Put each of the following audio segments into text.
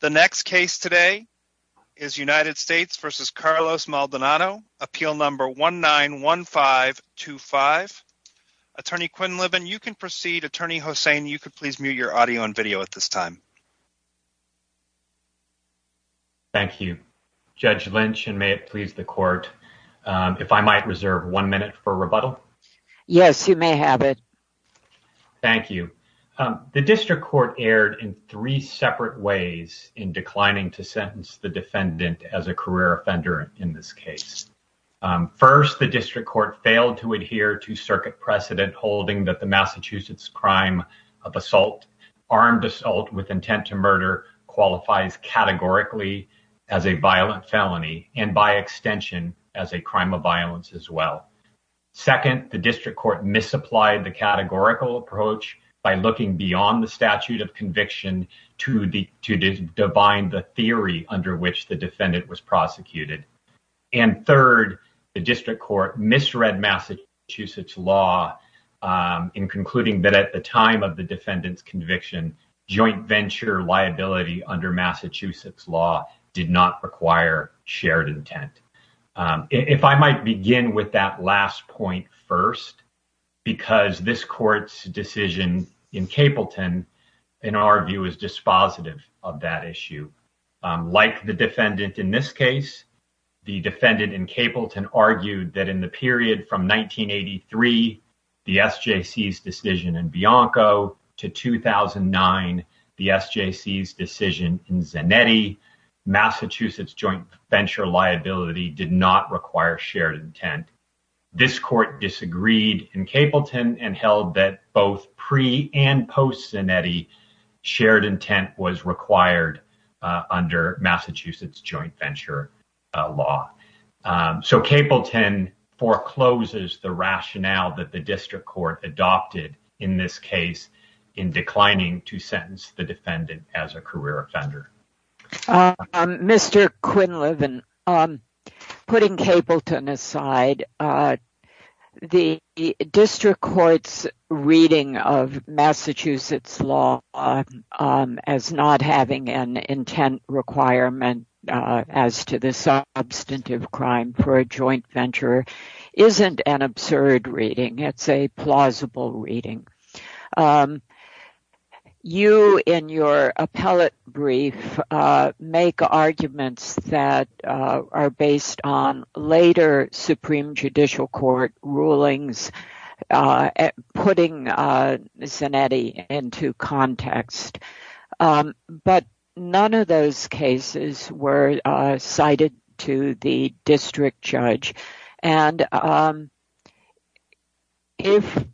The next case today is United States v. Carlos Maldonado, Appeal Number 191525. Attorney Quinn Liban, you can proceed. Attorney Hossain, you could please mute your audio and video at this time. Thank you, Judge Lynch, and may it please the court if I might reserve one minute for rebuttal? Yes, you may have it. Thank you. The district court erred in three separate ways in declining to sentence the defendant as a career offender in this case. First, the district court failed to adhere to circuit precedent holding that the Massachusetts crime of assault, armed assault with intent to murder, qualifies categorically as a violent felony and by extension as a crime of violence as well. Second, the district court misapplied the categorical approach by looking beyond the statute of conviction to the divine, the theory under which the defendant was prosecuted. And third, the district court misread Massachusetts law in concluding that at the time of the defendant's conviction, joint venture liability under Massachusetts law did not require shared intent. If I might begin with that last point first, because this court's decision in Capelton, in our view, is dispositive of that issue. Like the defendant in this case, the defendant in Capelton argued that in the period from 1983, the SJC's decision in Bianco to 2009, the SJC's decision in Zanetti, Massachusetts joint venture liability did not require shared intent. This court disagreed in Capelton and held that both pre and post Zanetti, shared intent was required under Massachusetts joint venture law. So Capelton forecloses the rationale that the district court adopted in this case in declining to sentence the defendant as a career offender. Mr. Quinlivan, putting Capelton aside, the district court's reading of Massachusetts law as not having an intent requirement as to the substantive crime for a joint venture isn't an absurd reading. It's a plausible reading. You, in your appellate brief, make arguments that are based on later Supreme Judicial Court rulings putting Zanetti into context. But none of those cases were cited to the district judge. And if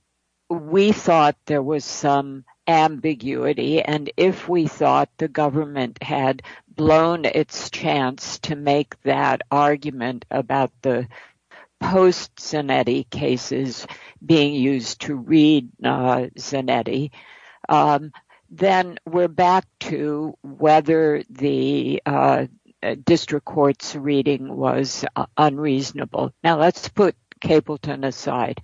we thought there was some ambiguity and if we thought the government had blown its chance to make that argument about the post Zanetti cases being used to read Zanetti, then we're back to whether the district court's reading was unreasonable. Now let's put Capelton aside.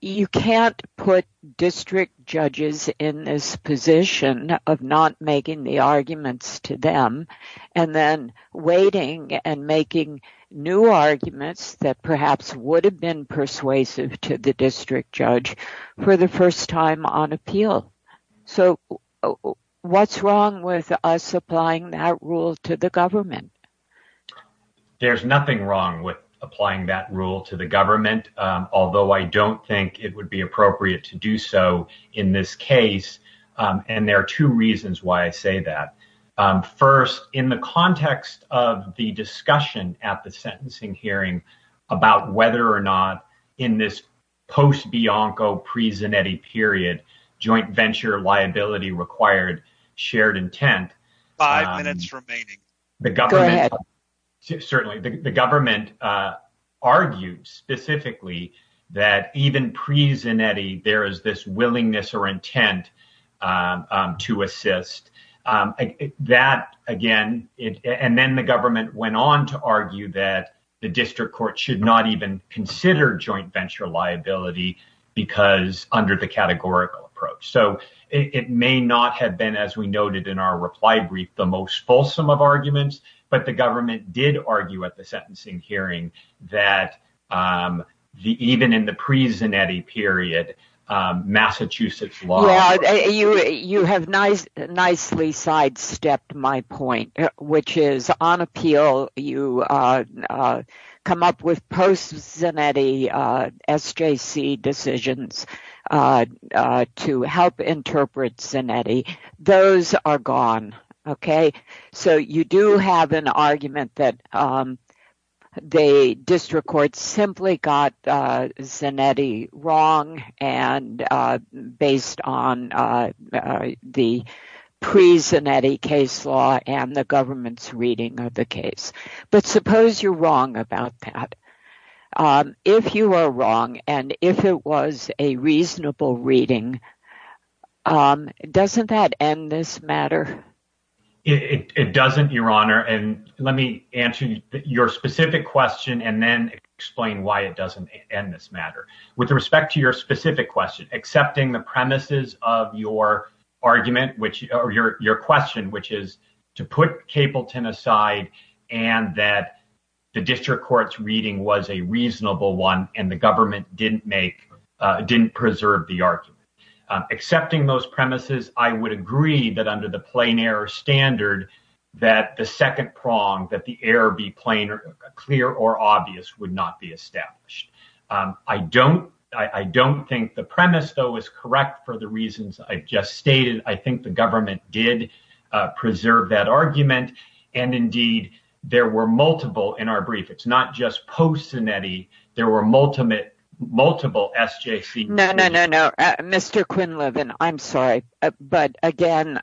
You can't put district judges in this position of not making the arguments to them and then waiting and making new arguments that perhaps would have been persuasive to the district judge for the first time on appeal. So what's wrong with us applying that rule to the government? There's nothing wrong with applying that rule to the government, although I don't think it would be appropriate to do so in this case. And there are two reasons why I say that. First, in the context of the discussion at the sentencing hearing about whether or not in this post-Bianco, pre-Zanetti period, joint venture liability required shared intent. Five minutes remaining. Go ahead. Certainly the government argued specifically that even pre-Zanetti, there is this willingness or intent to assist that again. And then the government went on to argue that the district court should not even consider joint venture liability because under the categorical approach. So it may not have been, as we noted in our reply brief, the most fulsome of arguments. But the government did argue at the sentencing hearing that even in the pre-Zanetti period, Massachusetts law. You have nicely sidestepped my point, which is on appeal, you come up with post-Zanetti SJC decisions to help interpret Zanetti. Those are gone. So you do have an argument that the district court simply got Zanetti wrong based on the pre-Zanetti case law and the government's reading of the case. But suppose you're wrong about that. If you are wrong and if it was a reasonable reading, doesn't that end this matter? It doesn't, Your Honor. And let me answer your specific question and then explain why it doesn't end this matter. With respect to your specific question, accepting the premises of your question, which is to put Capleton aside and that the district court's reading was a reasonable one and the government didn't preserve the argument. Accepting those premises, I would agree that under the plain error standard that the second prong, that the error be clear or obvious, would not be established. I don't think the premise, though, is correct for the reasons I just stated. I think the government did preserve that argument. And indeed, there were multiple in our brief. It's not just post-Zanetti. There were multiple SJC decisions. No, no, no, no. Mr. Quinlivan, I'm sorry. But again,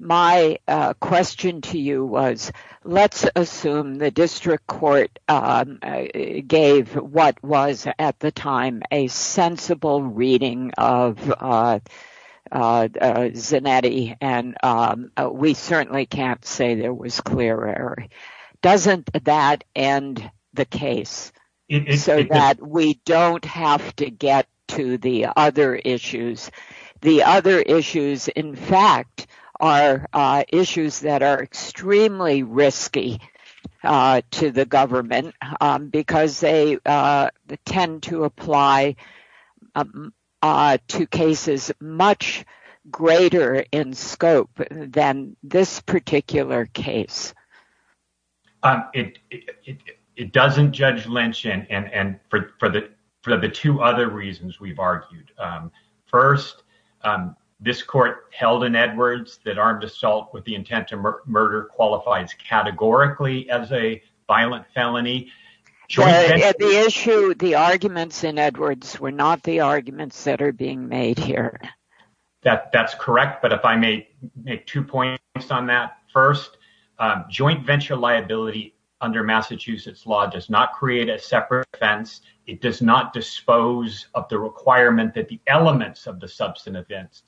my question to you was, let's assume the district court gave what was at the time a sensible reading of Zanetti. And we certainly can't say there was clear error. Doesn't that end the case so that we don't have to get to the other issues? The other issues, in fact, are issues that are extremely risky to the government because they tend to apply to cases much greater in scope than this particular case. It doesn't, Judge Lynch, and for the two other reasons we've argued. First, this court held in Edwards that armed assault with the intent to murder qualifies categorically as a violent felony. The issue, the arguments in Edwards were not the arguments that are being made here. That's correct. But if I may make two points on that. First, joint venture liability under Massachusetts law does not create a separate offense. It does not dispose of the requirement that the elements of the substantive events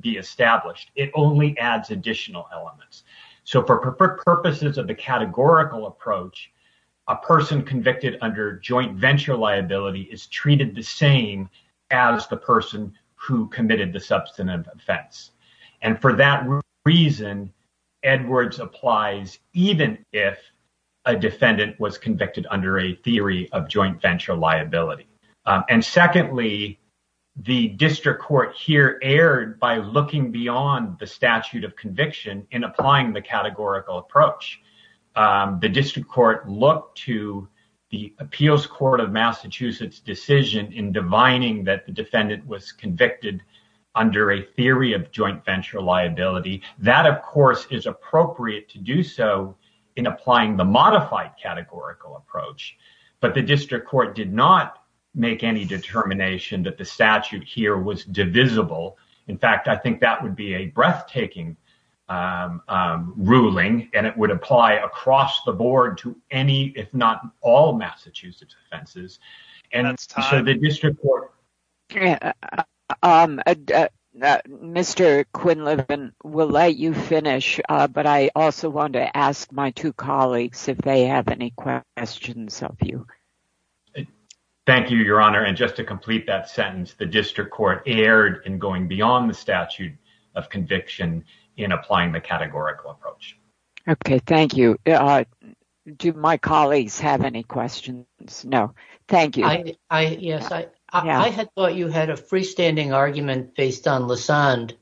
be established. It only adds additional elements. So for purposes of the categorical approach, a person convicted under joint venture liability is treated the same as the person who committed the substantive offense. And for that reason, Edwards applies even if a defendant was convicted under a theory of joint venture liability. And secondly, the district court here erred by looking beyond the statute of conviction in applying the categorical approach. The district court looked to the appeals court of Massachusetts decision in divining that the defendant was convicted under a theory of joint venture liability. That, of course, is appropriate to do so in applying the modified categorical approach. But the district court did not make any determination that the statute here was divisible. In fact, I think that would be a breathtaking ruling and it would apply across the board to any, if not all, Massachusetts offenses. Mr. Quinlivan, we'll let you finish. But I also want to ask my two colleagues if they have any questions of you. Thank you, Your Honor. And just to complete that sentence, the district court erred in going beyond the statute of conviction in applying the categorical approach. OK, thank you. Do my colleagues have any questions? No. Thank you. I had thought you had a freestanding argument based on Lassonde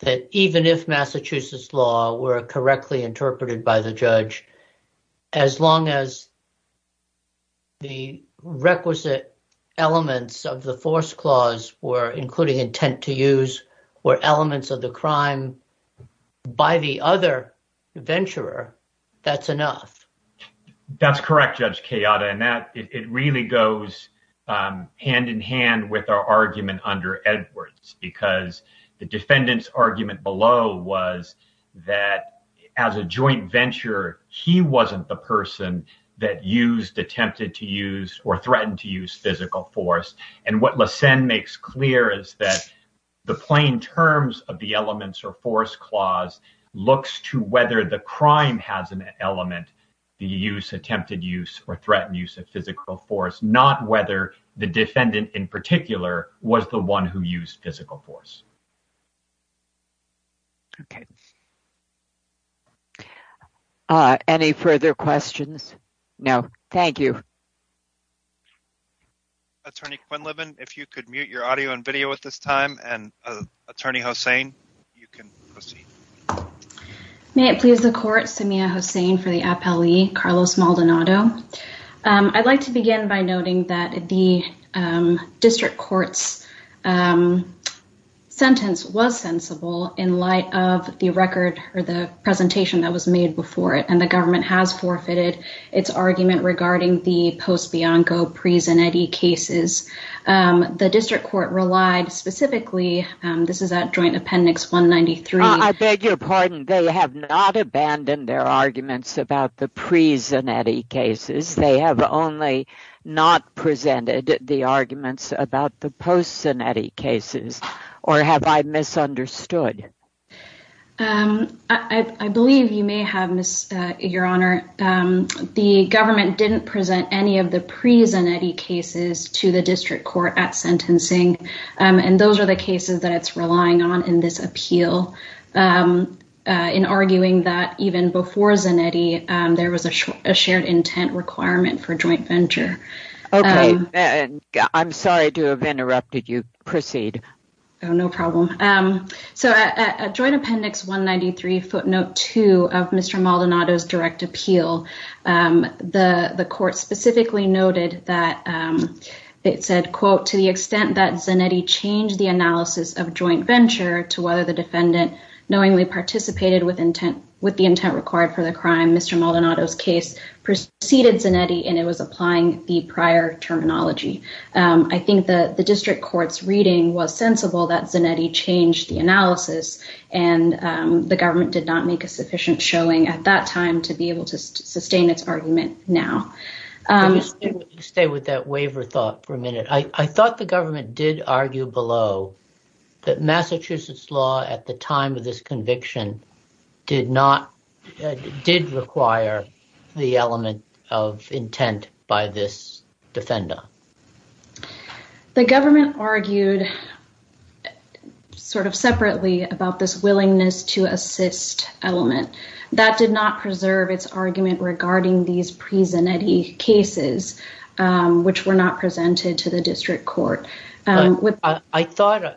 that even if Massachusetts law were correctly interpreted by the judge, as long as. The requisite elements of the force clause were including intent to use were elements of the crime by the other venturer, that's enough. That's correct, Judge Kayada. And that it really goes hand in hand with our argument under Edwards, because the defendant's argument below was that as a joint venture, he wasn't the person that used attempted to use or threatened to use physical force. And what Lassonde makes clear is that the plain terms of the elements or force clause looks to whether the crime has an element, the use, attempted use or threatened use of physical force, not whether the defendant in particular was the one who used physical force. OK. Any further questions? No. Thank you. Attorney Quinlivan, if you could mute your audio and video at this time and Attorney Hossain, you can proceed. May it please the court, Samia Hossain for the appellee, Carlos Maldonado. I'd like to begin by noting that the district court's sentence was sensible in light of the record or the presentation that was made before it. And the government has forfeited its argument regarding the post-Bianco, pre-Zanetti cases. The district court relied specifically, this is at Joint Appendix 193. I beg your pardon. They have not abandoned their arguments about the pre-Zanetti cases. They have only not presented the arguments about the post-Zanetti cases. Or have I misunderstood? I believe you may have, Your Honor. The government didn't present any of the pre-Zanetti cases to the district court at sentencing. And those are the cases that it's relying on in this appeal. In arguing that even before Zanetti, there was a shared intent requirement for joint venture. Okay. I'm sorry to have interrupted you. Proceed. Oh, no problem. So, at Joint Appendix 193, footnote 2 of Mr. Maldonado's direct appeal, the court specifically noted that it said, I think the district court's reading was sensible that Zanetti changed the analysis. And the government did not make a sufficient showing at that time to be able to sustain its argument now. Stay with that waiver thought for a minute. I thought the government did argue below that Massachusetts law at the time of this conviction did not, did require the element of intent by this defender. The government argued sort of separately about this willingness to assist element. That did not preserve its argument regarding these pre-Zanetti cases, which were not presented to the district court. I thought,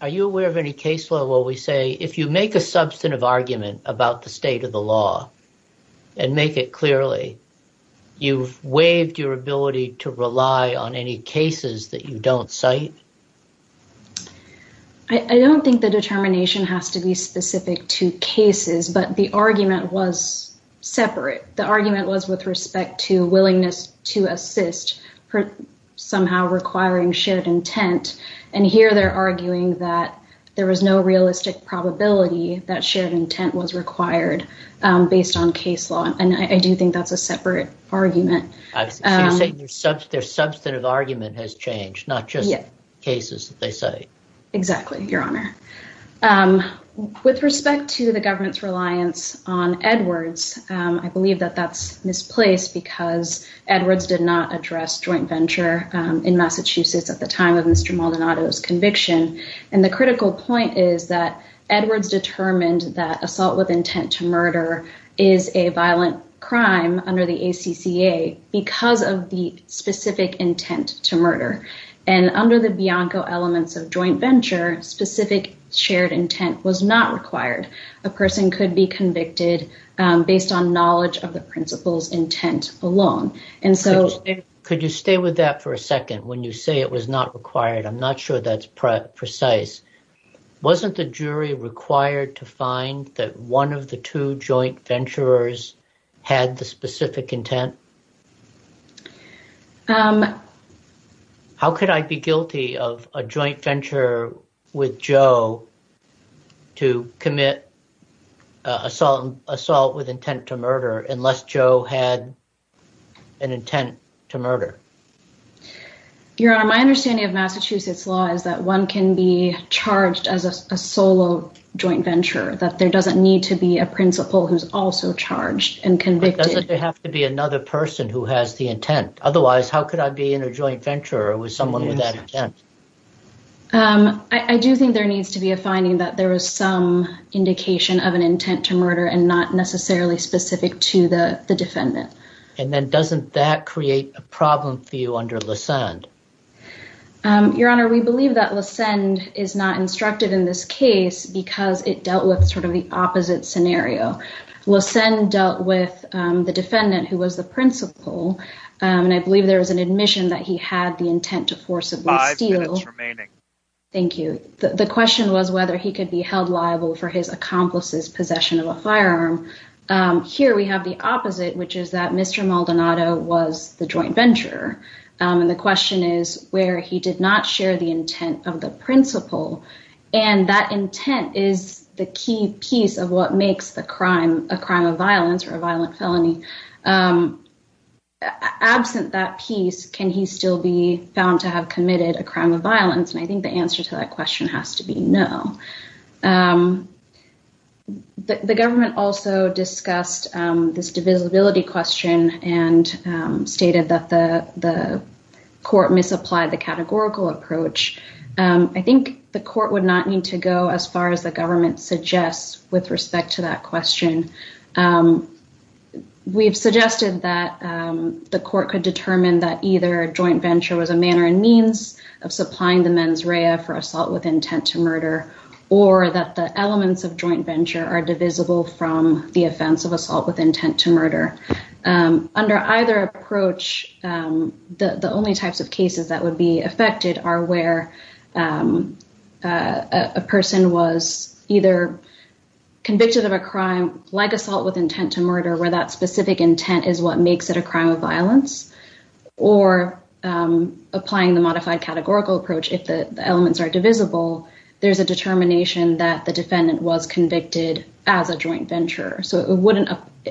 are you aware of any case law where we say, if you make a substantive argument about the state of the law and make it clearly, you've waived your ability to rely on any cases that you don't cite? I don't think the determination has to be specific to cases, but the argument was separate. The argument was with respect to willingness to assist somehow requiring shared intent. And here they're arguing that there was no realistic probability that shared intent was required based on case law. And I do think that's a separate argument. Their substantive argument has changed, not just cases that they cite. Exactly, Your Honor. With respect to the government's reliance on Edwards, I believe that that's misplaced because Edwards did not address joint venture in Massachusetts at the time of Mr. Maldonado's conviction. And the critical point is that Edwards determined that assault with intent to murder is a violent crime under the ACCA because of the specific intent to murder. And under the Bianco elements of joint venture, specific shared intent was not required. A person could be convicted based on knowledge of the principal's intent alone. Could you stay with that for a second? When you say it was not required, I'm not sure that's precise. Wasn't the jury required to find that one of the two joint venturers had the specific intent? How could I be guilty of a joint venture with Joe to commit assault with intent to murder unless Joe had an intent to murder? Your Honor, my understanding of Massachusetts law is that one can be charged as a solo joint venture, that there doesn't need to be a principal who's also charged and convicted. But doesn't there have to be another person who has the intent? Otherwise, how could I be in a joint venture with someone with that intent? I do think there needs to be a finding that there was some indication of an intent to murder and not necessarily specific to the defendant. And then doesn't that create a problem for you under LeSend? Your Honor, we believe that LeSend is not instructed in this case because it dealt with sort of the opposite scenario. LeSend dealt with the defendant who was the principal, and I believe there was an admission that he had the intent to forcibly steal. Five minutes remaining. Thank you. The question was whether he could be held liable for his accomplice's possession of a firearm. Here we have the opposite, which is that Mr. Maldonado was the joint venturer. And the question is where he did not share the intent of the principal. And that intent is the key piece of what makes the crime a crime of violence or a violent felony. Absent that piece, can he still be found to have committed a crime of violence? And I think the answer to that question has to be no. The government also discussed this divisibility question and stated that the court misapplied the categorical approach. I think the court would not need to go as far as the government suggests with respect to that question. We've suggested that the court could determine that either a joint venture was a manner and means of supplying the mens rea for assault with intent to murder or that the elements of joint venture are divisible from the offense of assault with intent to murder. Under either approach, the only types of cases that would be affected are where a person was either convicted of a crime like assault with intent to murder where that specific intent is what makes it a crime of violence or applying the modified categorical approach if the elements are divisible, there's a determination that the defendant was convicted as a joint venture. So it wouldn't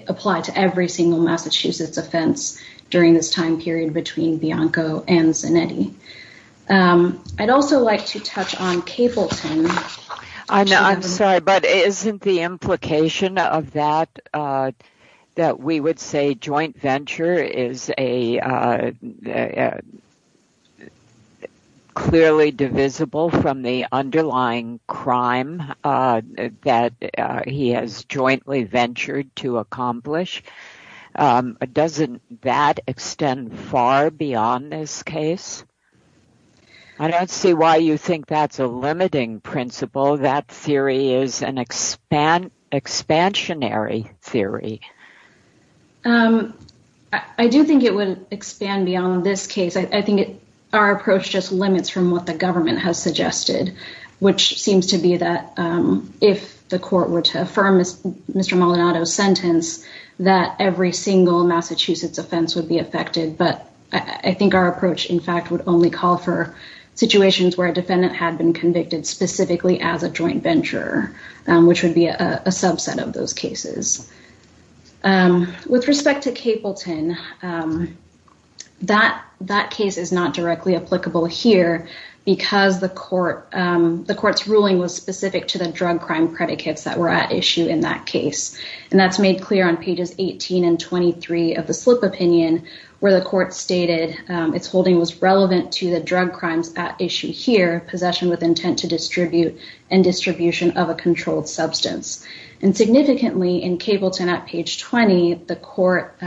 apply to every single Massachusetts offense during this time period between Bianco and Zanetti. I'd also like to touch on Capleton. I'm sorry, but isn't the implication of that that we would say joint venture is clearly divisible from the underlying crime that he has jointly ventured to accomplish? Doesn't that extend far beyond this case? I don't see why you think that's a limiting principle. That theory is an expansionary theory. I do think it would expand beyond this case. I think our approach just limits from what the government has suggested, which seems to be that if the court were to affirm Mr. Maldonado's sentence, that every single Massachusetts offense would be affected. But I think our approach, in fact, would only call for situations where a defendant had been convicted specifically as a joint venture, which would be a subset of those cases. With respect to Capleton, that case is not directly applicable here because the court, the court's ruling was specific to the drug crime predicates that were at issue in that case. And that's made clear on pages 18 and 23 of the slip opinion where the court stated its holding was relevant to the drug crimes at issue here, possession with intent to distribute, and distribution of a controlled substance. And significantly in Capleton at page 20, the court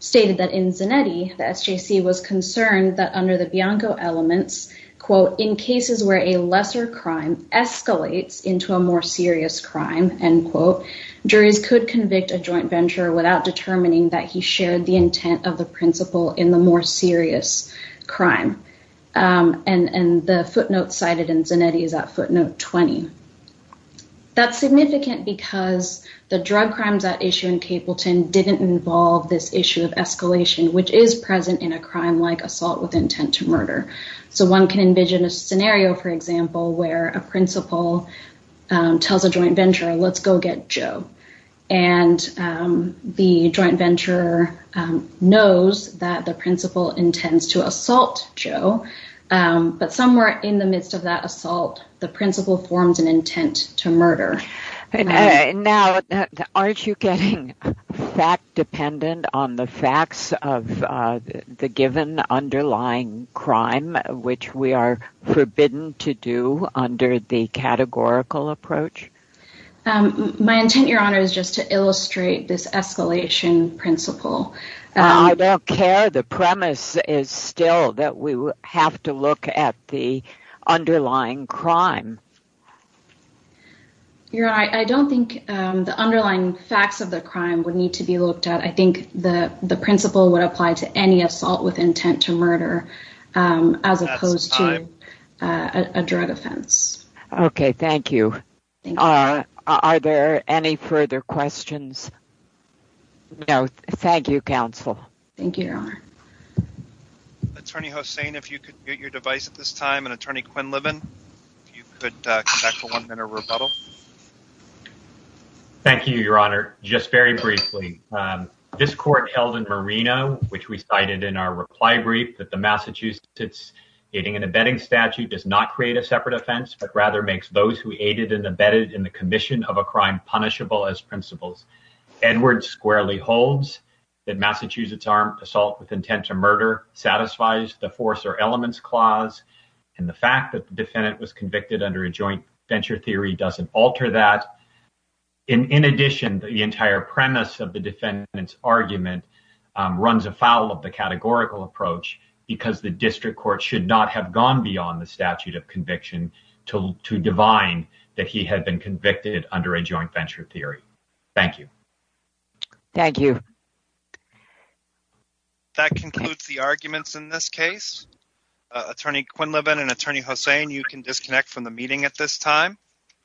stated that in Zanetti, the SJC was concerned that under the Bianco elements, quote, in cases where a lesser crime escalates into a more serious crime, end quote, juries could convict a joint venture without determining that he shared the intent of the principle in the more serious crime. And the footnote cited in Zanetti is that footnote 20. That's significant because the drug crimes at issue in Capleton didn't involve this issue of escalation, which is present in a crime like assault with intent to murder. So one can envision a scenario, for example, where a principal tells a joint venture, let's go get Joe. And the joint venture knows that the principal intends to assault Joe. But somewhere in the midst of that assault, the principal forms an intent to murder. Now, aren't you getting fact dependent on the facts of the given underlying crime, which we are forbidden to do under the categorical approach? My intent, Your Honor, is just to illustrate this escalation principle. I don't care. The premise is still that we have to look at the underlying crime. Your Honor, I don't think the underlying facts of the crime would need to be looked at. I think the principle would apply to any assault with intent to murder as opposed to a drug offense. OK, thank you. Are there any further questions? No. Thank you, counsel. Thank you, Your Honor. Attorney Hossain, if you could get your device at this time, and Attorney Quinlivan, if you could come back for one minute of rebuttal. Thank you, Your Honor. Just very briefly. This court held in Marino, which we cited in our reply brief, that the Massachusetts aiding and abetting statute does not create a separate offense, but rather makes those who aided and abetted in the commission of a crime punishable as principles. Edwards squarely holds that Massachusetts armed assault with intent to murder satisfies the force or elements clause. And the fact that the defendant was convicted under a joint venture theory doesn't alter that. In addition, the entire premise of the defendant's argument runs afoul of the categorical approach, because the district court should not have gone beyond the statute of conviction to divine that he had been convicted under a joint venture theory. Thank you. Thank you. That concludes the arguments in this case. Attorney Quinlivan and Attorney Hossain, you can disconnect from the meeting at this time.